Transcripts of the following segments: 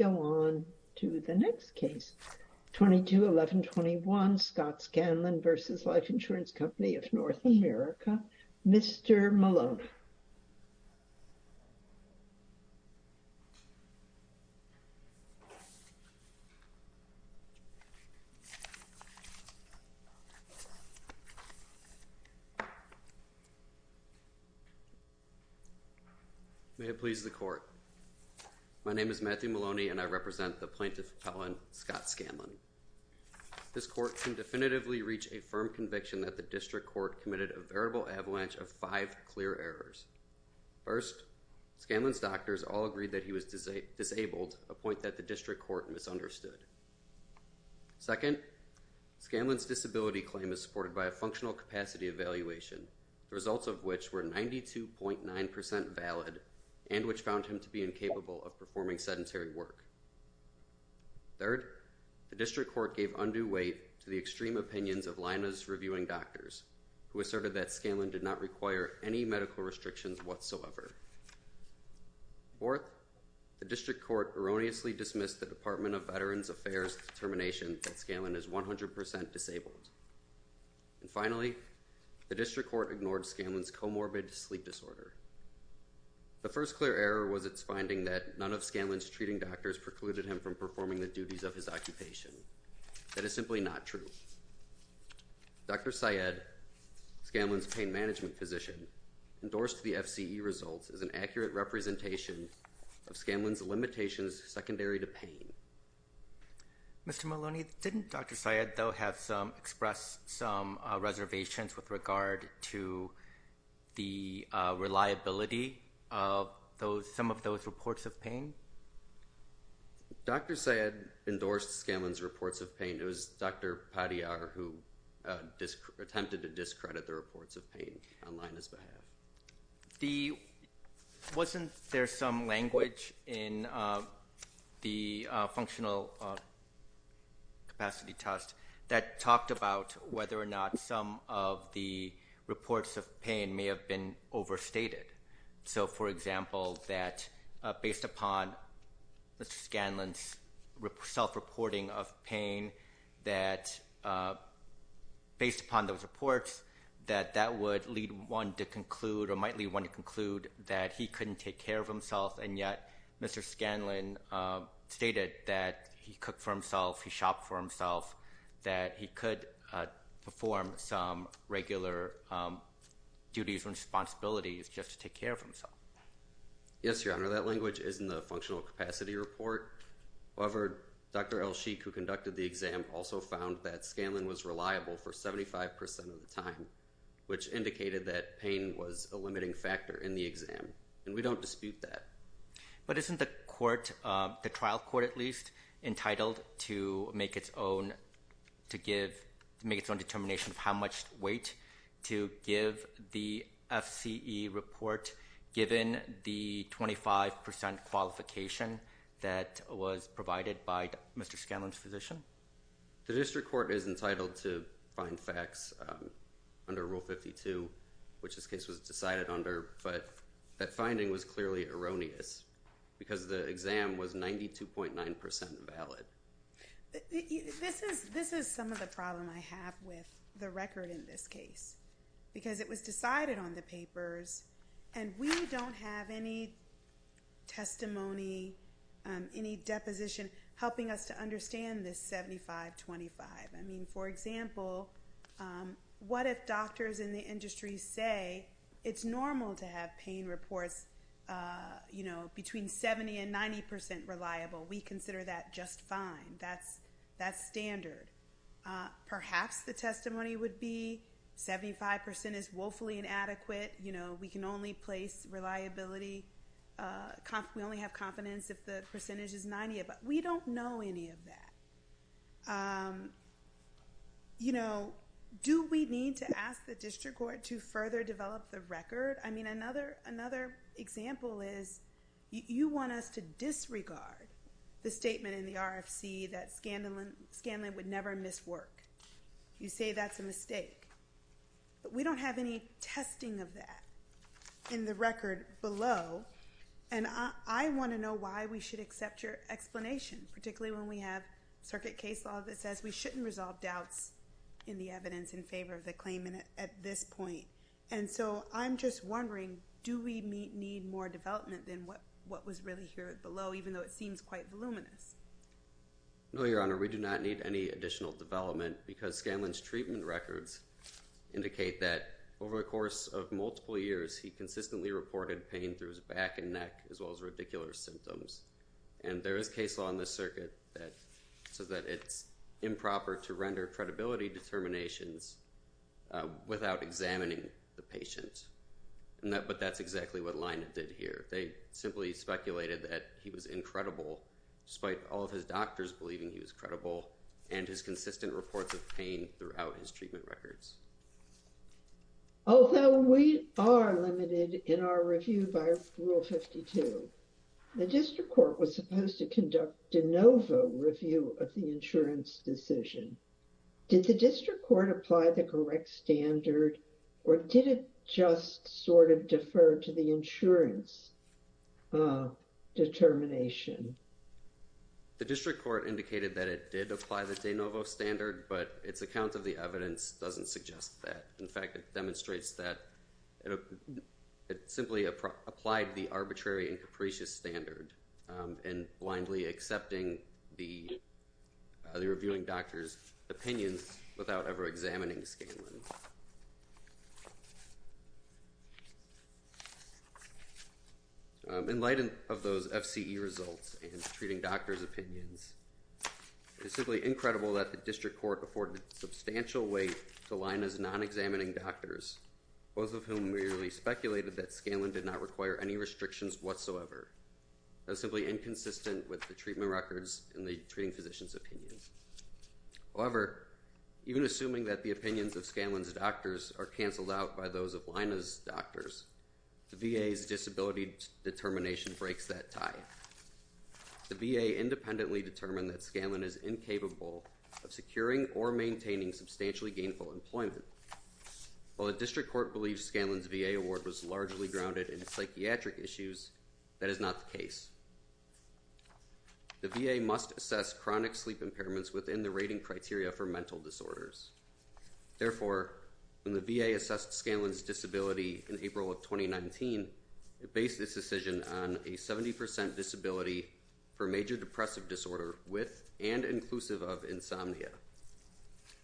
America, Mr. Maloney. May it please the court. My name is Matthew Maloney. I'm a lawyer with Life Insurance Company of Nort America, and I represent the plaintiff, Helen Scott Scanlon. This court can definitively reach a firm conviction that the district court committed a veritable avalanche of five clear errors. First, Scanlon's doctors all agreed that he was disabled, a point that the district court misunderstood. Second, Scanlon's disability claim is supported by a functional capacity evaluation, the results of which were 92.9% valid and which found him to be incapable of performing sedentary work. Third, the district court gave undue weight to the extreme opinions of Lyna's reviewing doctors, who asserted that Scanlon did not require any medical restrictions whatsoever. Fourth, the district court erroneously dismissed the Department of Veterans Affairs determination that Scanlon is 100% disabled. And finally, the district court ignored Scanlon's comorbid sleep disorder. The first clear error was its finding that none of Scanlon's treating doctors precluded him from performing the duties of his occupation. That is simply not true. Dr. Syed, Scanlon's pain management physician, endorsed the FCE results as an accurate representation of Scanlon's limitations secondary to pain. Mr. Maloney, didn't Dr. Syed though have expressed some reservations with regard to the reliability of some of those reports of pain? Dr. Syed endorsed Scanlon's reports of pain. It was Dr. Padillard who attempted to discredit the reports of pain on Lyna's behalf. Wasn't there some language in the functional capacity test that talked about whether or not some of the reports of pain may have been overstated? So, for example, that based upon Mr. Scanlon's self-reporting of pain, that based upon those reports, that that would lead one to conclude or might lead one to conclude that he couldn't take care of himself. And yet, Mr. Scanlon stated that he cooked for himself, he shopped for himself, that he could perform some regular duties or responsibilities just to take care of himself. Yes, Your Honor, that language is in the functional capacity report. However, Dr. Elsheikh, who conducted the exam, also found that Scanlon was reliable for 75% of the time, which indicated that pain was a limiting factor in the exam. And we don't dispute that. But isn't the court, the trial court at least, entitled to make its own determination of how much weight to give the FCE report given the 25% qualification that was provided by Mr. Scanlon's physician? The district court is entitled to find facts under Rule 52, which this case was decided under, but that finding was clearly erroneous because the exam was 92.9% valid. This is some of the problem I have with the record in this case because it was decided on the papers and we don't have any testimony, any deposition helping us to understand this 75-25. I mean, for example, what if doctors in the industry say it's normal to have pain reports, you know, between 70 and 90% reliable? We consider that just fine. That's standard. Perhaps the testimony would be 75% is woefully inadequate, you know, we can only place reliability, we only have confidence if the percentage is 90, but we don't know any of that. You know, do we need to ask the district court to further develop the record? I mean, another example is you want us to disregard the statement in the RFC that Scanlon would never miss work. You say that's a mistake, but we don't have any testing of that in the record below, and I want to know why we should accept your explanation, particularly when we have circuit case law that says we shouldn't resolve doubts in the evidence in favor of the claimant at this point. And so I'm just wondering, do we need more development than what was really here below, even though it seems quite voluminous? No, Your Honor, we do not need any additional development, because Scanlon's treatment records indicate that over the course of multiple years, he consistently reported pain through his back and neck, as well as radicular symptoms. And there is case law in this circuit that says that it's improper to render credibility determinations without examining the patient. But that's exactly what Leina did here. They simply speculated that he was incredible, despite all of his doctors believing he was credible, and his consistent reports of pain throughout his treatment records. Although we are limited in our review by Rule 52, the district court was supposed to conduct de novo review of the insurance decision. Did the district court apply the correct standard, or did it just sort of defer to the insurance determination? The district court indicated that it did apply the de novo standard, but its account of the evidence doesn't suggest that. In fact, it demonstrates that it simply applied the arbitrary and capricious standard in blindly accepting the reviewing doctor's opinions without ever examining Scanlon. In light of those FCE results and the treating doctor's opinions, it is simply incredible that the district court afforded substantial weight to Leina's non-examining doctors, both of whom merely speculated that Scanlon did not require any restrictions whatsoever. That is simply inconsistent with the treatment records and the treating physician's opinions. However, even assuming that the opinions of Scanlon's doctors are canceled out by those of Leina's doctors, the VA's disability determination breaks that tie. The VA independently determined that Scanlon is incapable of securing or maintaining substantially gainful employment. While the district court believes Scanlon's VA award was largely grounded in psychiatric issues, that is not the case. The VA must assess chronic sleep impairments within the rating criteria for mental disorders. Therefore, when the VA assessed Scanlon's disability in April of 2019, it based this decision on a 70% disability for major depressive disorder with and inclusive of insomnia.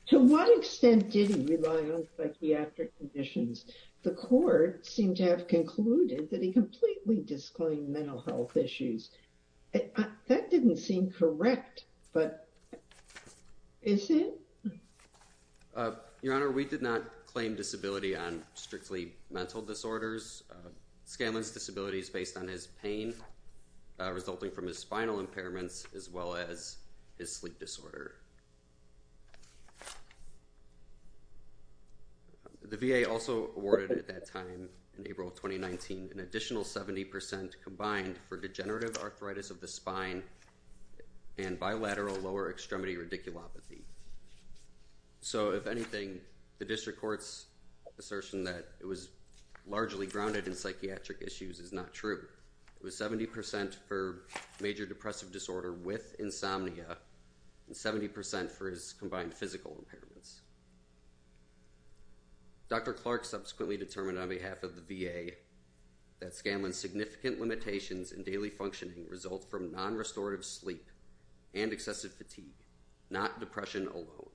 To what extent did he rely on psychiatric conditions? The court seemed to have concluded that he completely disclaimed mental health issues. That didn't seem correct, but is it? Your Honor, we did not claim disability on strictly mental disorders. Scanlon's disability is based on his pain resulting from his spinal impairments as well as his sleep disorder. The VA also awarded at that time, in April of 2019, an additional 70% combined for degenerative arthritis of the spine and bilateral lower extremity radiculopathy. So, if anything, the district court's assertion that it was largely grounded in psychiatric issues is not true. It was 70% for major depressive disorder with insomnia and 70% for his combined physical impairments. Dr. Clark subsequently determined on behalf of the VA that Scanlon's significant limitations in daily functioning result from non-restorative sleep and excessive fatigue, not depression alone.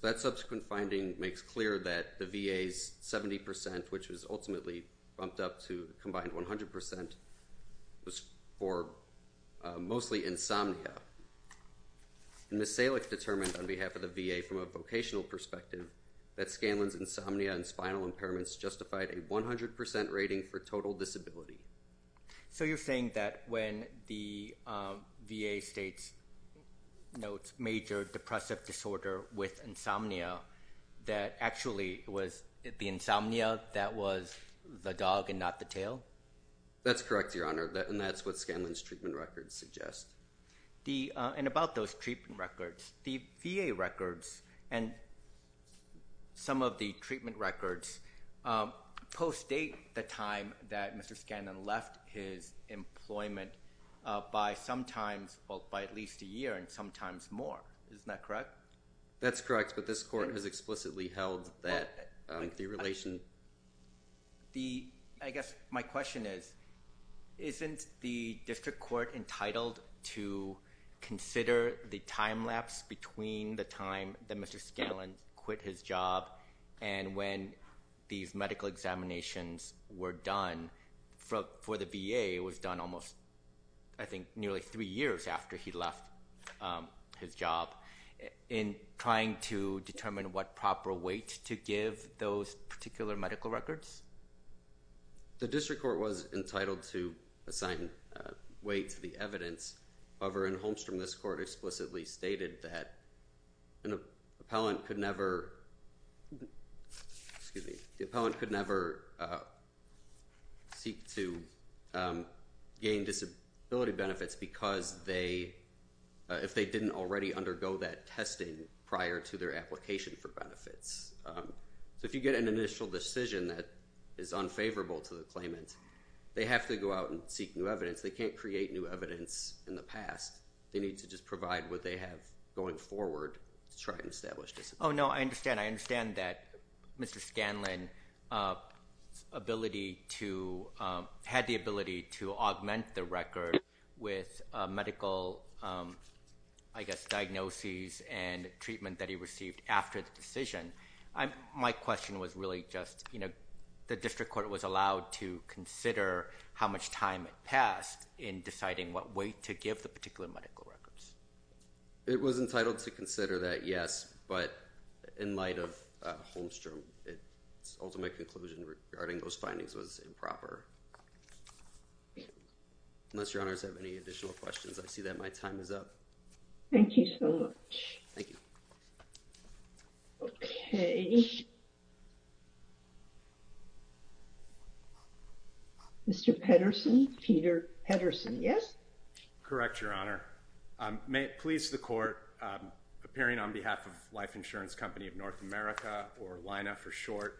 That subsequent finding makes clear that the VA's 70%, which was ultimately bumped up to combined 100%, was for mostly insomnia. Ms. Salek determined on behalf of the VA from a vocational perspective that Scanlon's insomnia and spinal impairments justified a 100% rating for total disability. So, you're saying that when the VA states major depressive disorder with insomnia, that actually it was the insomnia that was the dog and not the tail? That's correct, Your Honor, and that's what Scanlon's treatment records suggest. And about those treatment records, the VA records and some of the treatment records post-date the time that Mr. Scanlon left his employment by sometimes, well, by at least a year and sometimes more. Isn't that correct? That's correct, but this court has explicitly held that the relation… I guess my question is, isn't the district court entitled to consider the time lapse between the time that Mr. Scanlon quit his job and when these medical examinations were done for the VA, which the VA was done almost, I think, nearly three years after he left his job, in trying to determine what proper weight to give those particular medical records? The district court was entitled to assign weight to the evidence. However, in Holmstrom, this court explicitly stated that an appellant could never… Excuse me. The appellant could never seek to gain disability benefits because they…if they didn't already undergo that testing prior to their application for benefits. So if you get an initial decision that is unfavorable to the claimant, they have to go out and seek new evidence. They can't create new evidence in the past. They need to just provide what they have going forward to try and establish disability. Oh, no, I understand. I understand that Mr. Scanlon's ability to…had the ability to augment the record with medical, I guess, diagnoses and treatment that he received after the decision. My question was really just, you know, the district court was allowed to consider how much time had passed in deciding what weight to give the particular medical records. It was entitled to consider that, yes, but in light of Holmstrom, its ultimate conclusion regarding those findings was improper. Unless Your Honors have any additional questions, I see that my time is up. Thank you so much. Thank you. Okay. Mr. Pedersen, Peter Pedersen, yes? Correct, Your Honor. May it please the Court, appearing on behalf of Life Insurance Company of North America, or LINA for short,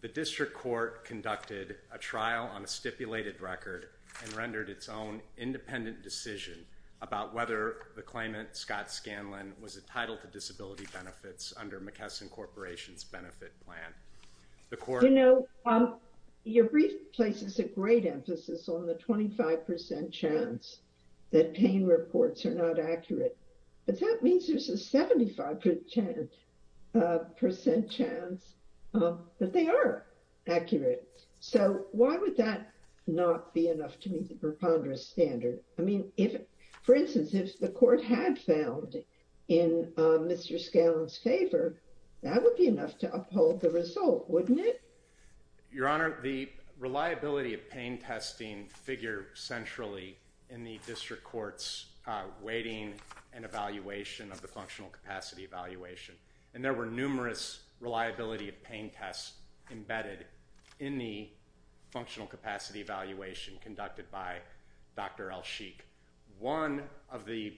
the district court conducted a trial on a stipulated record and rendered its own independent decision about whether the claimant, Scott Scanlon, was entitled to disability benefits under McKesson Corporation's benefit plan. You know, your brief places a great emphasis on the 25% chance that pain reports are not accurate, but that means there's a 75% chance that they are accurate. So, why would that not be enough to meet the preponderance standard? I mean, for instance, if the Court had failed in Mr. Scanlon's favor, that would be enough to uphold the result, wouldn't it? Your Honor, the reliability of pain testing figure centrally in the district court's weighting and evaluation of the functional capacity evaluation, and there were numerous reliability of pain tests embedded in the functional capacity evaluation conducted by Dr. El-Sheikh. One of the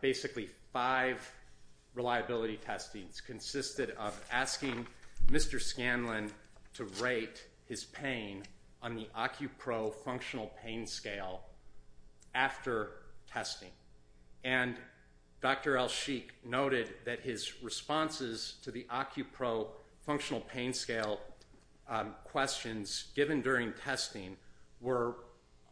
basically five reliability testings consisted of asking Mr. Scanlon to rate his pain on the Acupro functional pain scale after testing, and Dr. El-Sheikh noted that his responses to the Acupro functional pain scale questions given during testing were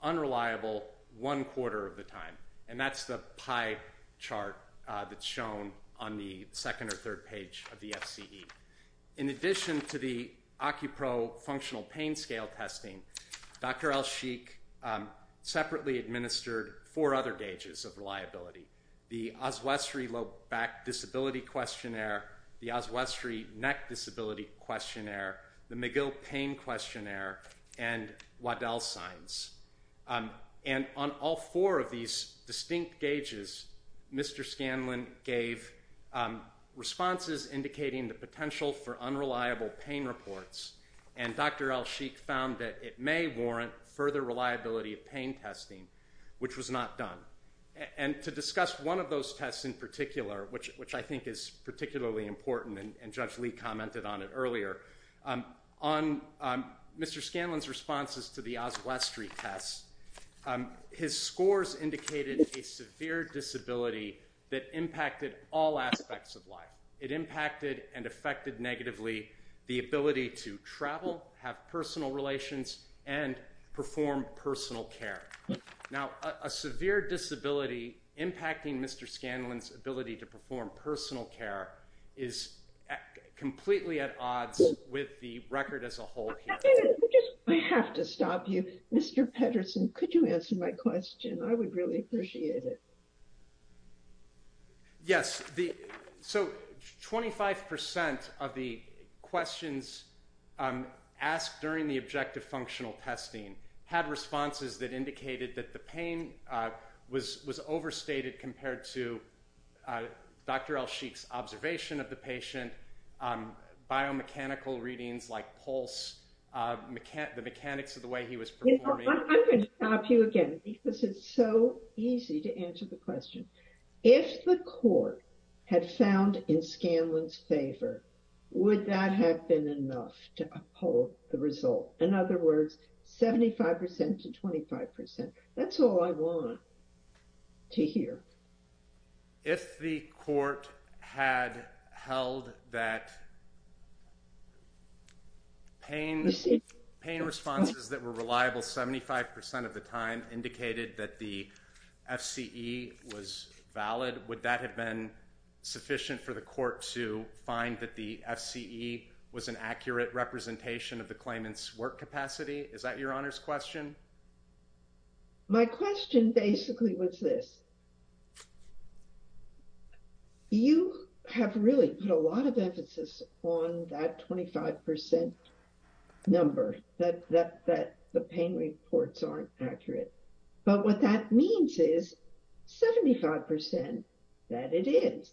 unreliable one quarter of the time, and that's the pie chart that's shown on the second or third page of the FCE. In addition to the Acupro functional pain scale testing, Dr. El-Sheikh separately administered four other gauges of reliability, the Oswestry low back disability questionnaire, the Oswestry neck disability questionnaire, the McGill pain questionnaire, and Waddell signs. And on all four of these distinct gauges, Mr. Scanlon gave responses indicating the potential for unreliable pain reports, and Dr. El-Sheikh found that it may warrant further reliability of pain testing, which was not done. And to discuss one of those tests in particular, which I think is particularly important, and Judge Lee commented on it earlier, on Mr. Scanlon's responses to the Oswestry test, his scores indicated a severe disability that impacted all aspects of life. It impacted and affected negatively the ability to travel, have personal relations, and perform personal care. Now, a severe disability impacting Mr. Scanlon's ability to perform personal care is completely at odds with the record as a whole. I have to stop you. Mr. Pedersen, could you answer my question? I would really appreciate it. Yes, so 25% of the questions asked during the objective functional testing had responses that indicated that the pain was overstated compared to Dr. El-Sheikh's observation of the patient, biomechanical readings like pulse, the mechanics of the way he was performing. I'm going to stop you again because it's so easy to answer the question. If the court had found in Scanlon's favor, would that have been enough to uphold the result? In other words, 75% to 25%. That's all I want to hear. If the court had held that pain responses that were reliable 75% of the time indicated that the FCE was valid, would that have been sufficient for the court to find that the FCE was an accurate representation of the claimant's work capacity? Is that your Honor's question? My question basically was this. You have really put a lot of emphasis on that 25% number that the pain reports aren't accurate. But what that means is 75% that it is,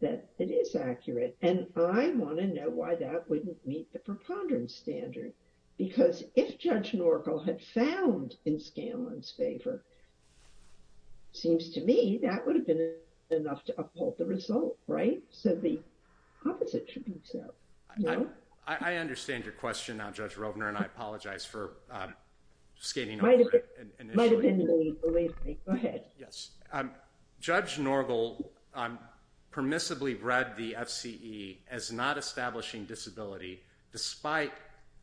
that it is accurate. And I want to know why that wouldn't meet the preponderance standard. Because if Judge Norgel had found in Scanlon's favor, seems to me that would have been enough to uphold the result, right? So the opposite should be so. I understand your question now, Judge Rovner, and I apologize for skating over it initially. Go ahead. Judge Norgel permissibly read the FCE as not establishing disability, despite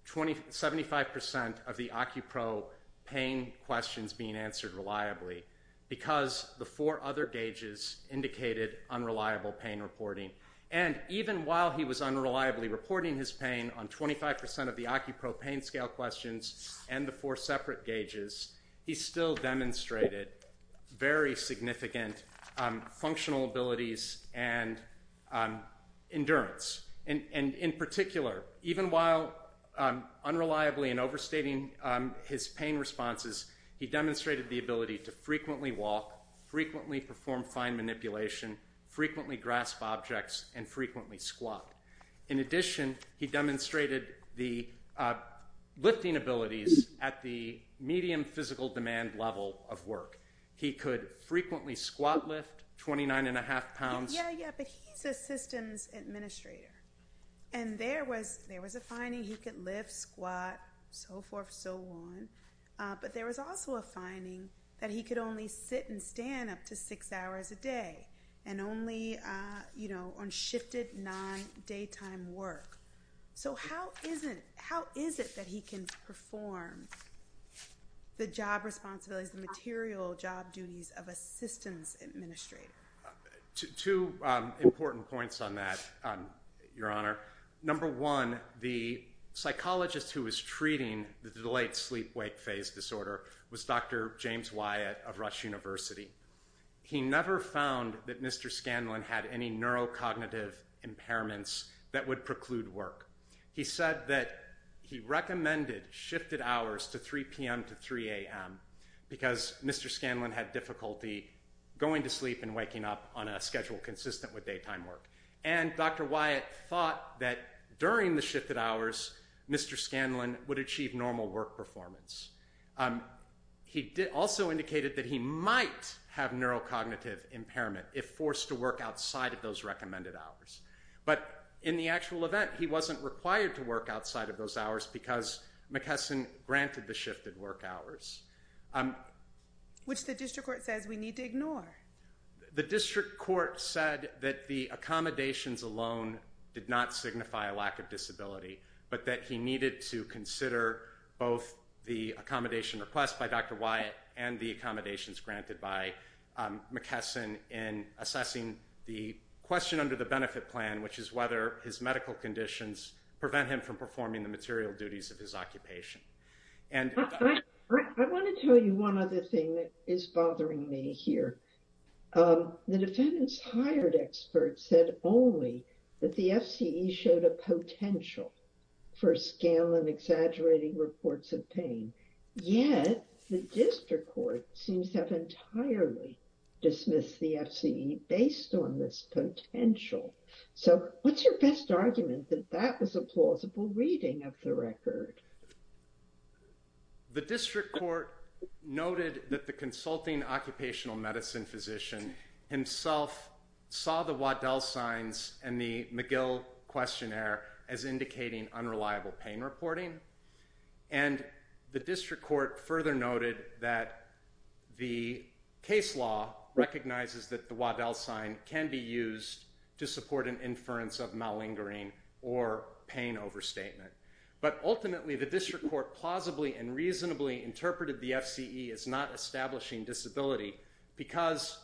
75% of the Occupro pain questions being answered reliably, because the four other gauges indicated unreliable pain reporting. And even while he was unreliably reporting his pain on 25% of the Occupro pain scale questions and the four separate gauges, he still demonstrated very significant functional abilities and endurance. And in particular, even while unreliably and overstating his pain responses, he demonstrated the ability to frequently walk, frequently perform fine manipulation, frequently grasp objects, and frequently squat. In addition, he demonstrated the lifting abilities at the medium physical demand level of work. He could frequently squat lift 29 and a half pounds. Yeah, yeah, but he's a systems administrator. And there was a finding he could lift, squat, so forth, so on. But there was also a finding that he could only sit and stand up to six hours a day and only on shifted non-daytime work. So how is it that he can perform the job responsibilities, the material job duties of a systems administrator? Two important points on that, Your Honor. Number one, the psychologist who was treating the delayed sleep-wake phase disorder was Dr. James Wyatt of Rush University. He never found that Mr. Scanlon had any neurocognitive impairments that would preclude work. He said that he recommended shifted hours to 3 p.m. to 3 a.m. because Mr. Scanlon had difficulty going to sleep and waking up on a schedule consistent with daytime work. And Dr. Wyatt thought that during the shifted hours, Mr. Scanlon would achieve normal work performance. He also indicated that he might have neurocognitive impairment if forced to work outside of those recommended hours. But in the actual event, he wasn't required to work outside of those hours because McKesson granted the shifted work hours. Which the district court says we need to ignore. The district court said that the accommodations alone did not signify a lack of disability, but that he needed to consider both the accommodation request by Dr. Wyatt and the accommodations granted by McKesson in assessing the question under the benefit plan, which is whether his medical conditions prevent him from performing the material duties of his occupation. I want to tell you one other thing that is bothering me here. The defendants hired experts said only that the F.C.E. showed a potential for Scanlon exaggerating reports of pain. Yet the district court seems to have entirely dismissed the F.C.E. based on this potential. So what's your best argument that that was a plausible reading of the record? The district court noted that the consulting occupational medicine physician himself saw the Waddell signs and the McGill questionnaire as indicating unreliable pain reporting. And the district court further noted that the case law recognizes that the Waddell sign can be used to support an inference of malingering or pain overstatement. But ultimately the district court plausibly and reasonably interpreted the F.C.E. as not establishing disability because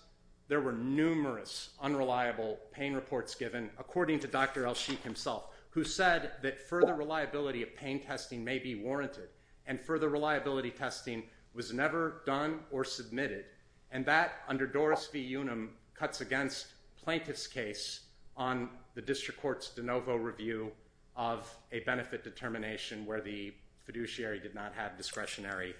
there were numerous unreliable pain reports given, according to Dr. Elsheikh himself, who said that further reliability of pain testing may be warranted and further reliability testing was never done or submitted. And that, under Doris v. Unum, cuts against plaintiff's case on the district court's de novo review of a benefit determination where the fiduciary did not have discretionary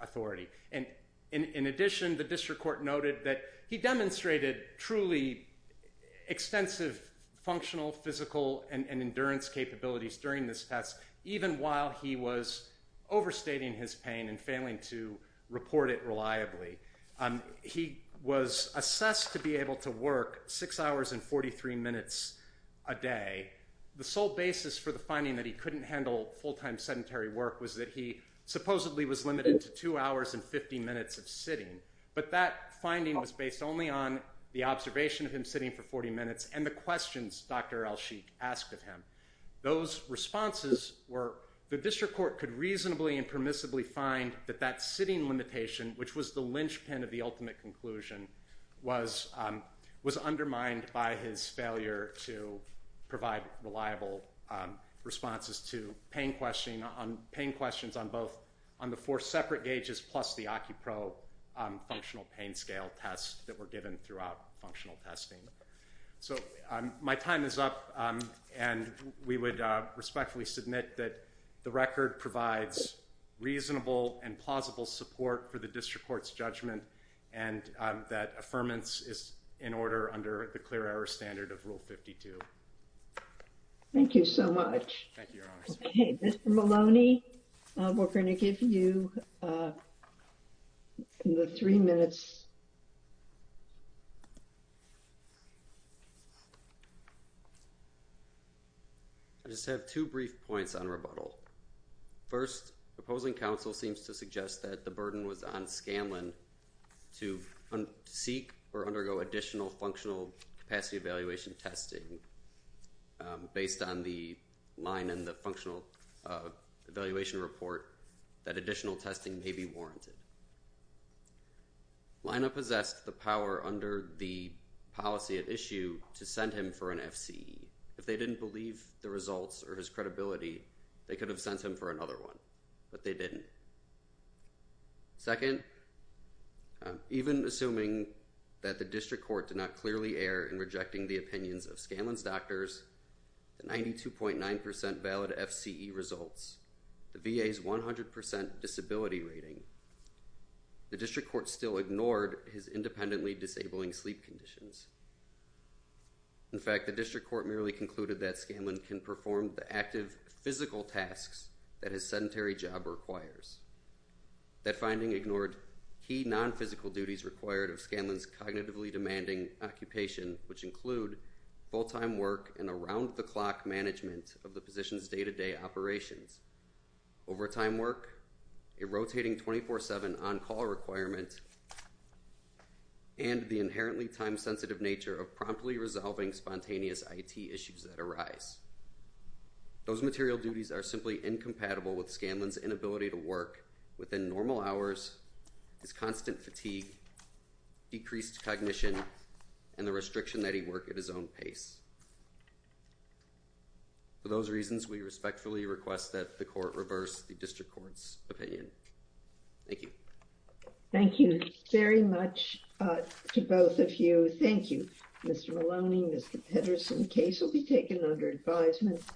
authority. And in addition, the district court noted that he demonstrated truly extensive functional, physical, and endurance capabilities during this test, even while he was overstating his pain and failing to report it reliably. He was assessed to be able to work six hours and 43 minutes a day. The sole basis for the finding that he couldn't handle full-time sedentary work was that he supposedly was limited to two hours and 50 minutes of sitting. But that finding was based only on the observation of him sitting for 40 minutes and the questions Dr. Elsheikh asked of him. Those responses were the district court could reasonably and permissibly find that that sitting limitation, which was the linchpin of the ultimate conclusion, was undermined by his failure to provide reliable responses to pain questions on both the four separate gauges plus the Occupro functional pain scale tests that were given throughout functional testing. So my time is up, and we would respectfully submit that the record provides reasonable and plausible support for the district court's judgment and that affirmance is in order under the clear error standard of Rule 52. Thank you so much. Thank you, Your Honor. In the three minutes. I just have two brief points on rebuttal. First, opposing counsel seems to suggest that the burden was on Scanlon to seek or undergo additional functional capacity evaluation testing based on the line in the functional evaluation report that additional testing may be warranted. Lina possessed the power under the policy at issue to send him for an FCE. If they didn't believe the results or his credibility, they could have sent him for another one, but they didn't. Second, even assuming that the district court did not clearly err in rejecting the opinions of Scanlon's doctors, the 92.9% valid FCE results, the VA's 100% disability rating, the district court still ignored his independently disabling sleep conditions. In fact, the district court merely concluded that Scanlon can perform the active physical tasks that his sedentary job requires. That finding ignored key non-physical duties required of Scanlon's cognitively demanding occupation, which include full-time work and around-the-clock management of the position's day-to-day operations, overtime work, a rotating 24-7 on-call requirement, and the inherently time-sensitive nature of promptly resolving spontaneous IT issues that arise. Those material duties are simply incompatible with Scanlon's inability to work within normal hours, his constant fatigue, decreased cognition, and the restriction that he work at his own pace. For those reasons, we respectfully request that the court reverse the district court's opinion. Thank you. Thank you very much to both of you. Thank you. Mr. Maloney, Mr. Pedersen, case will be taken under advisement.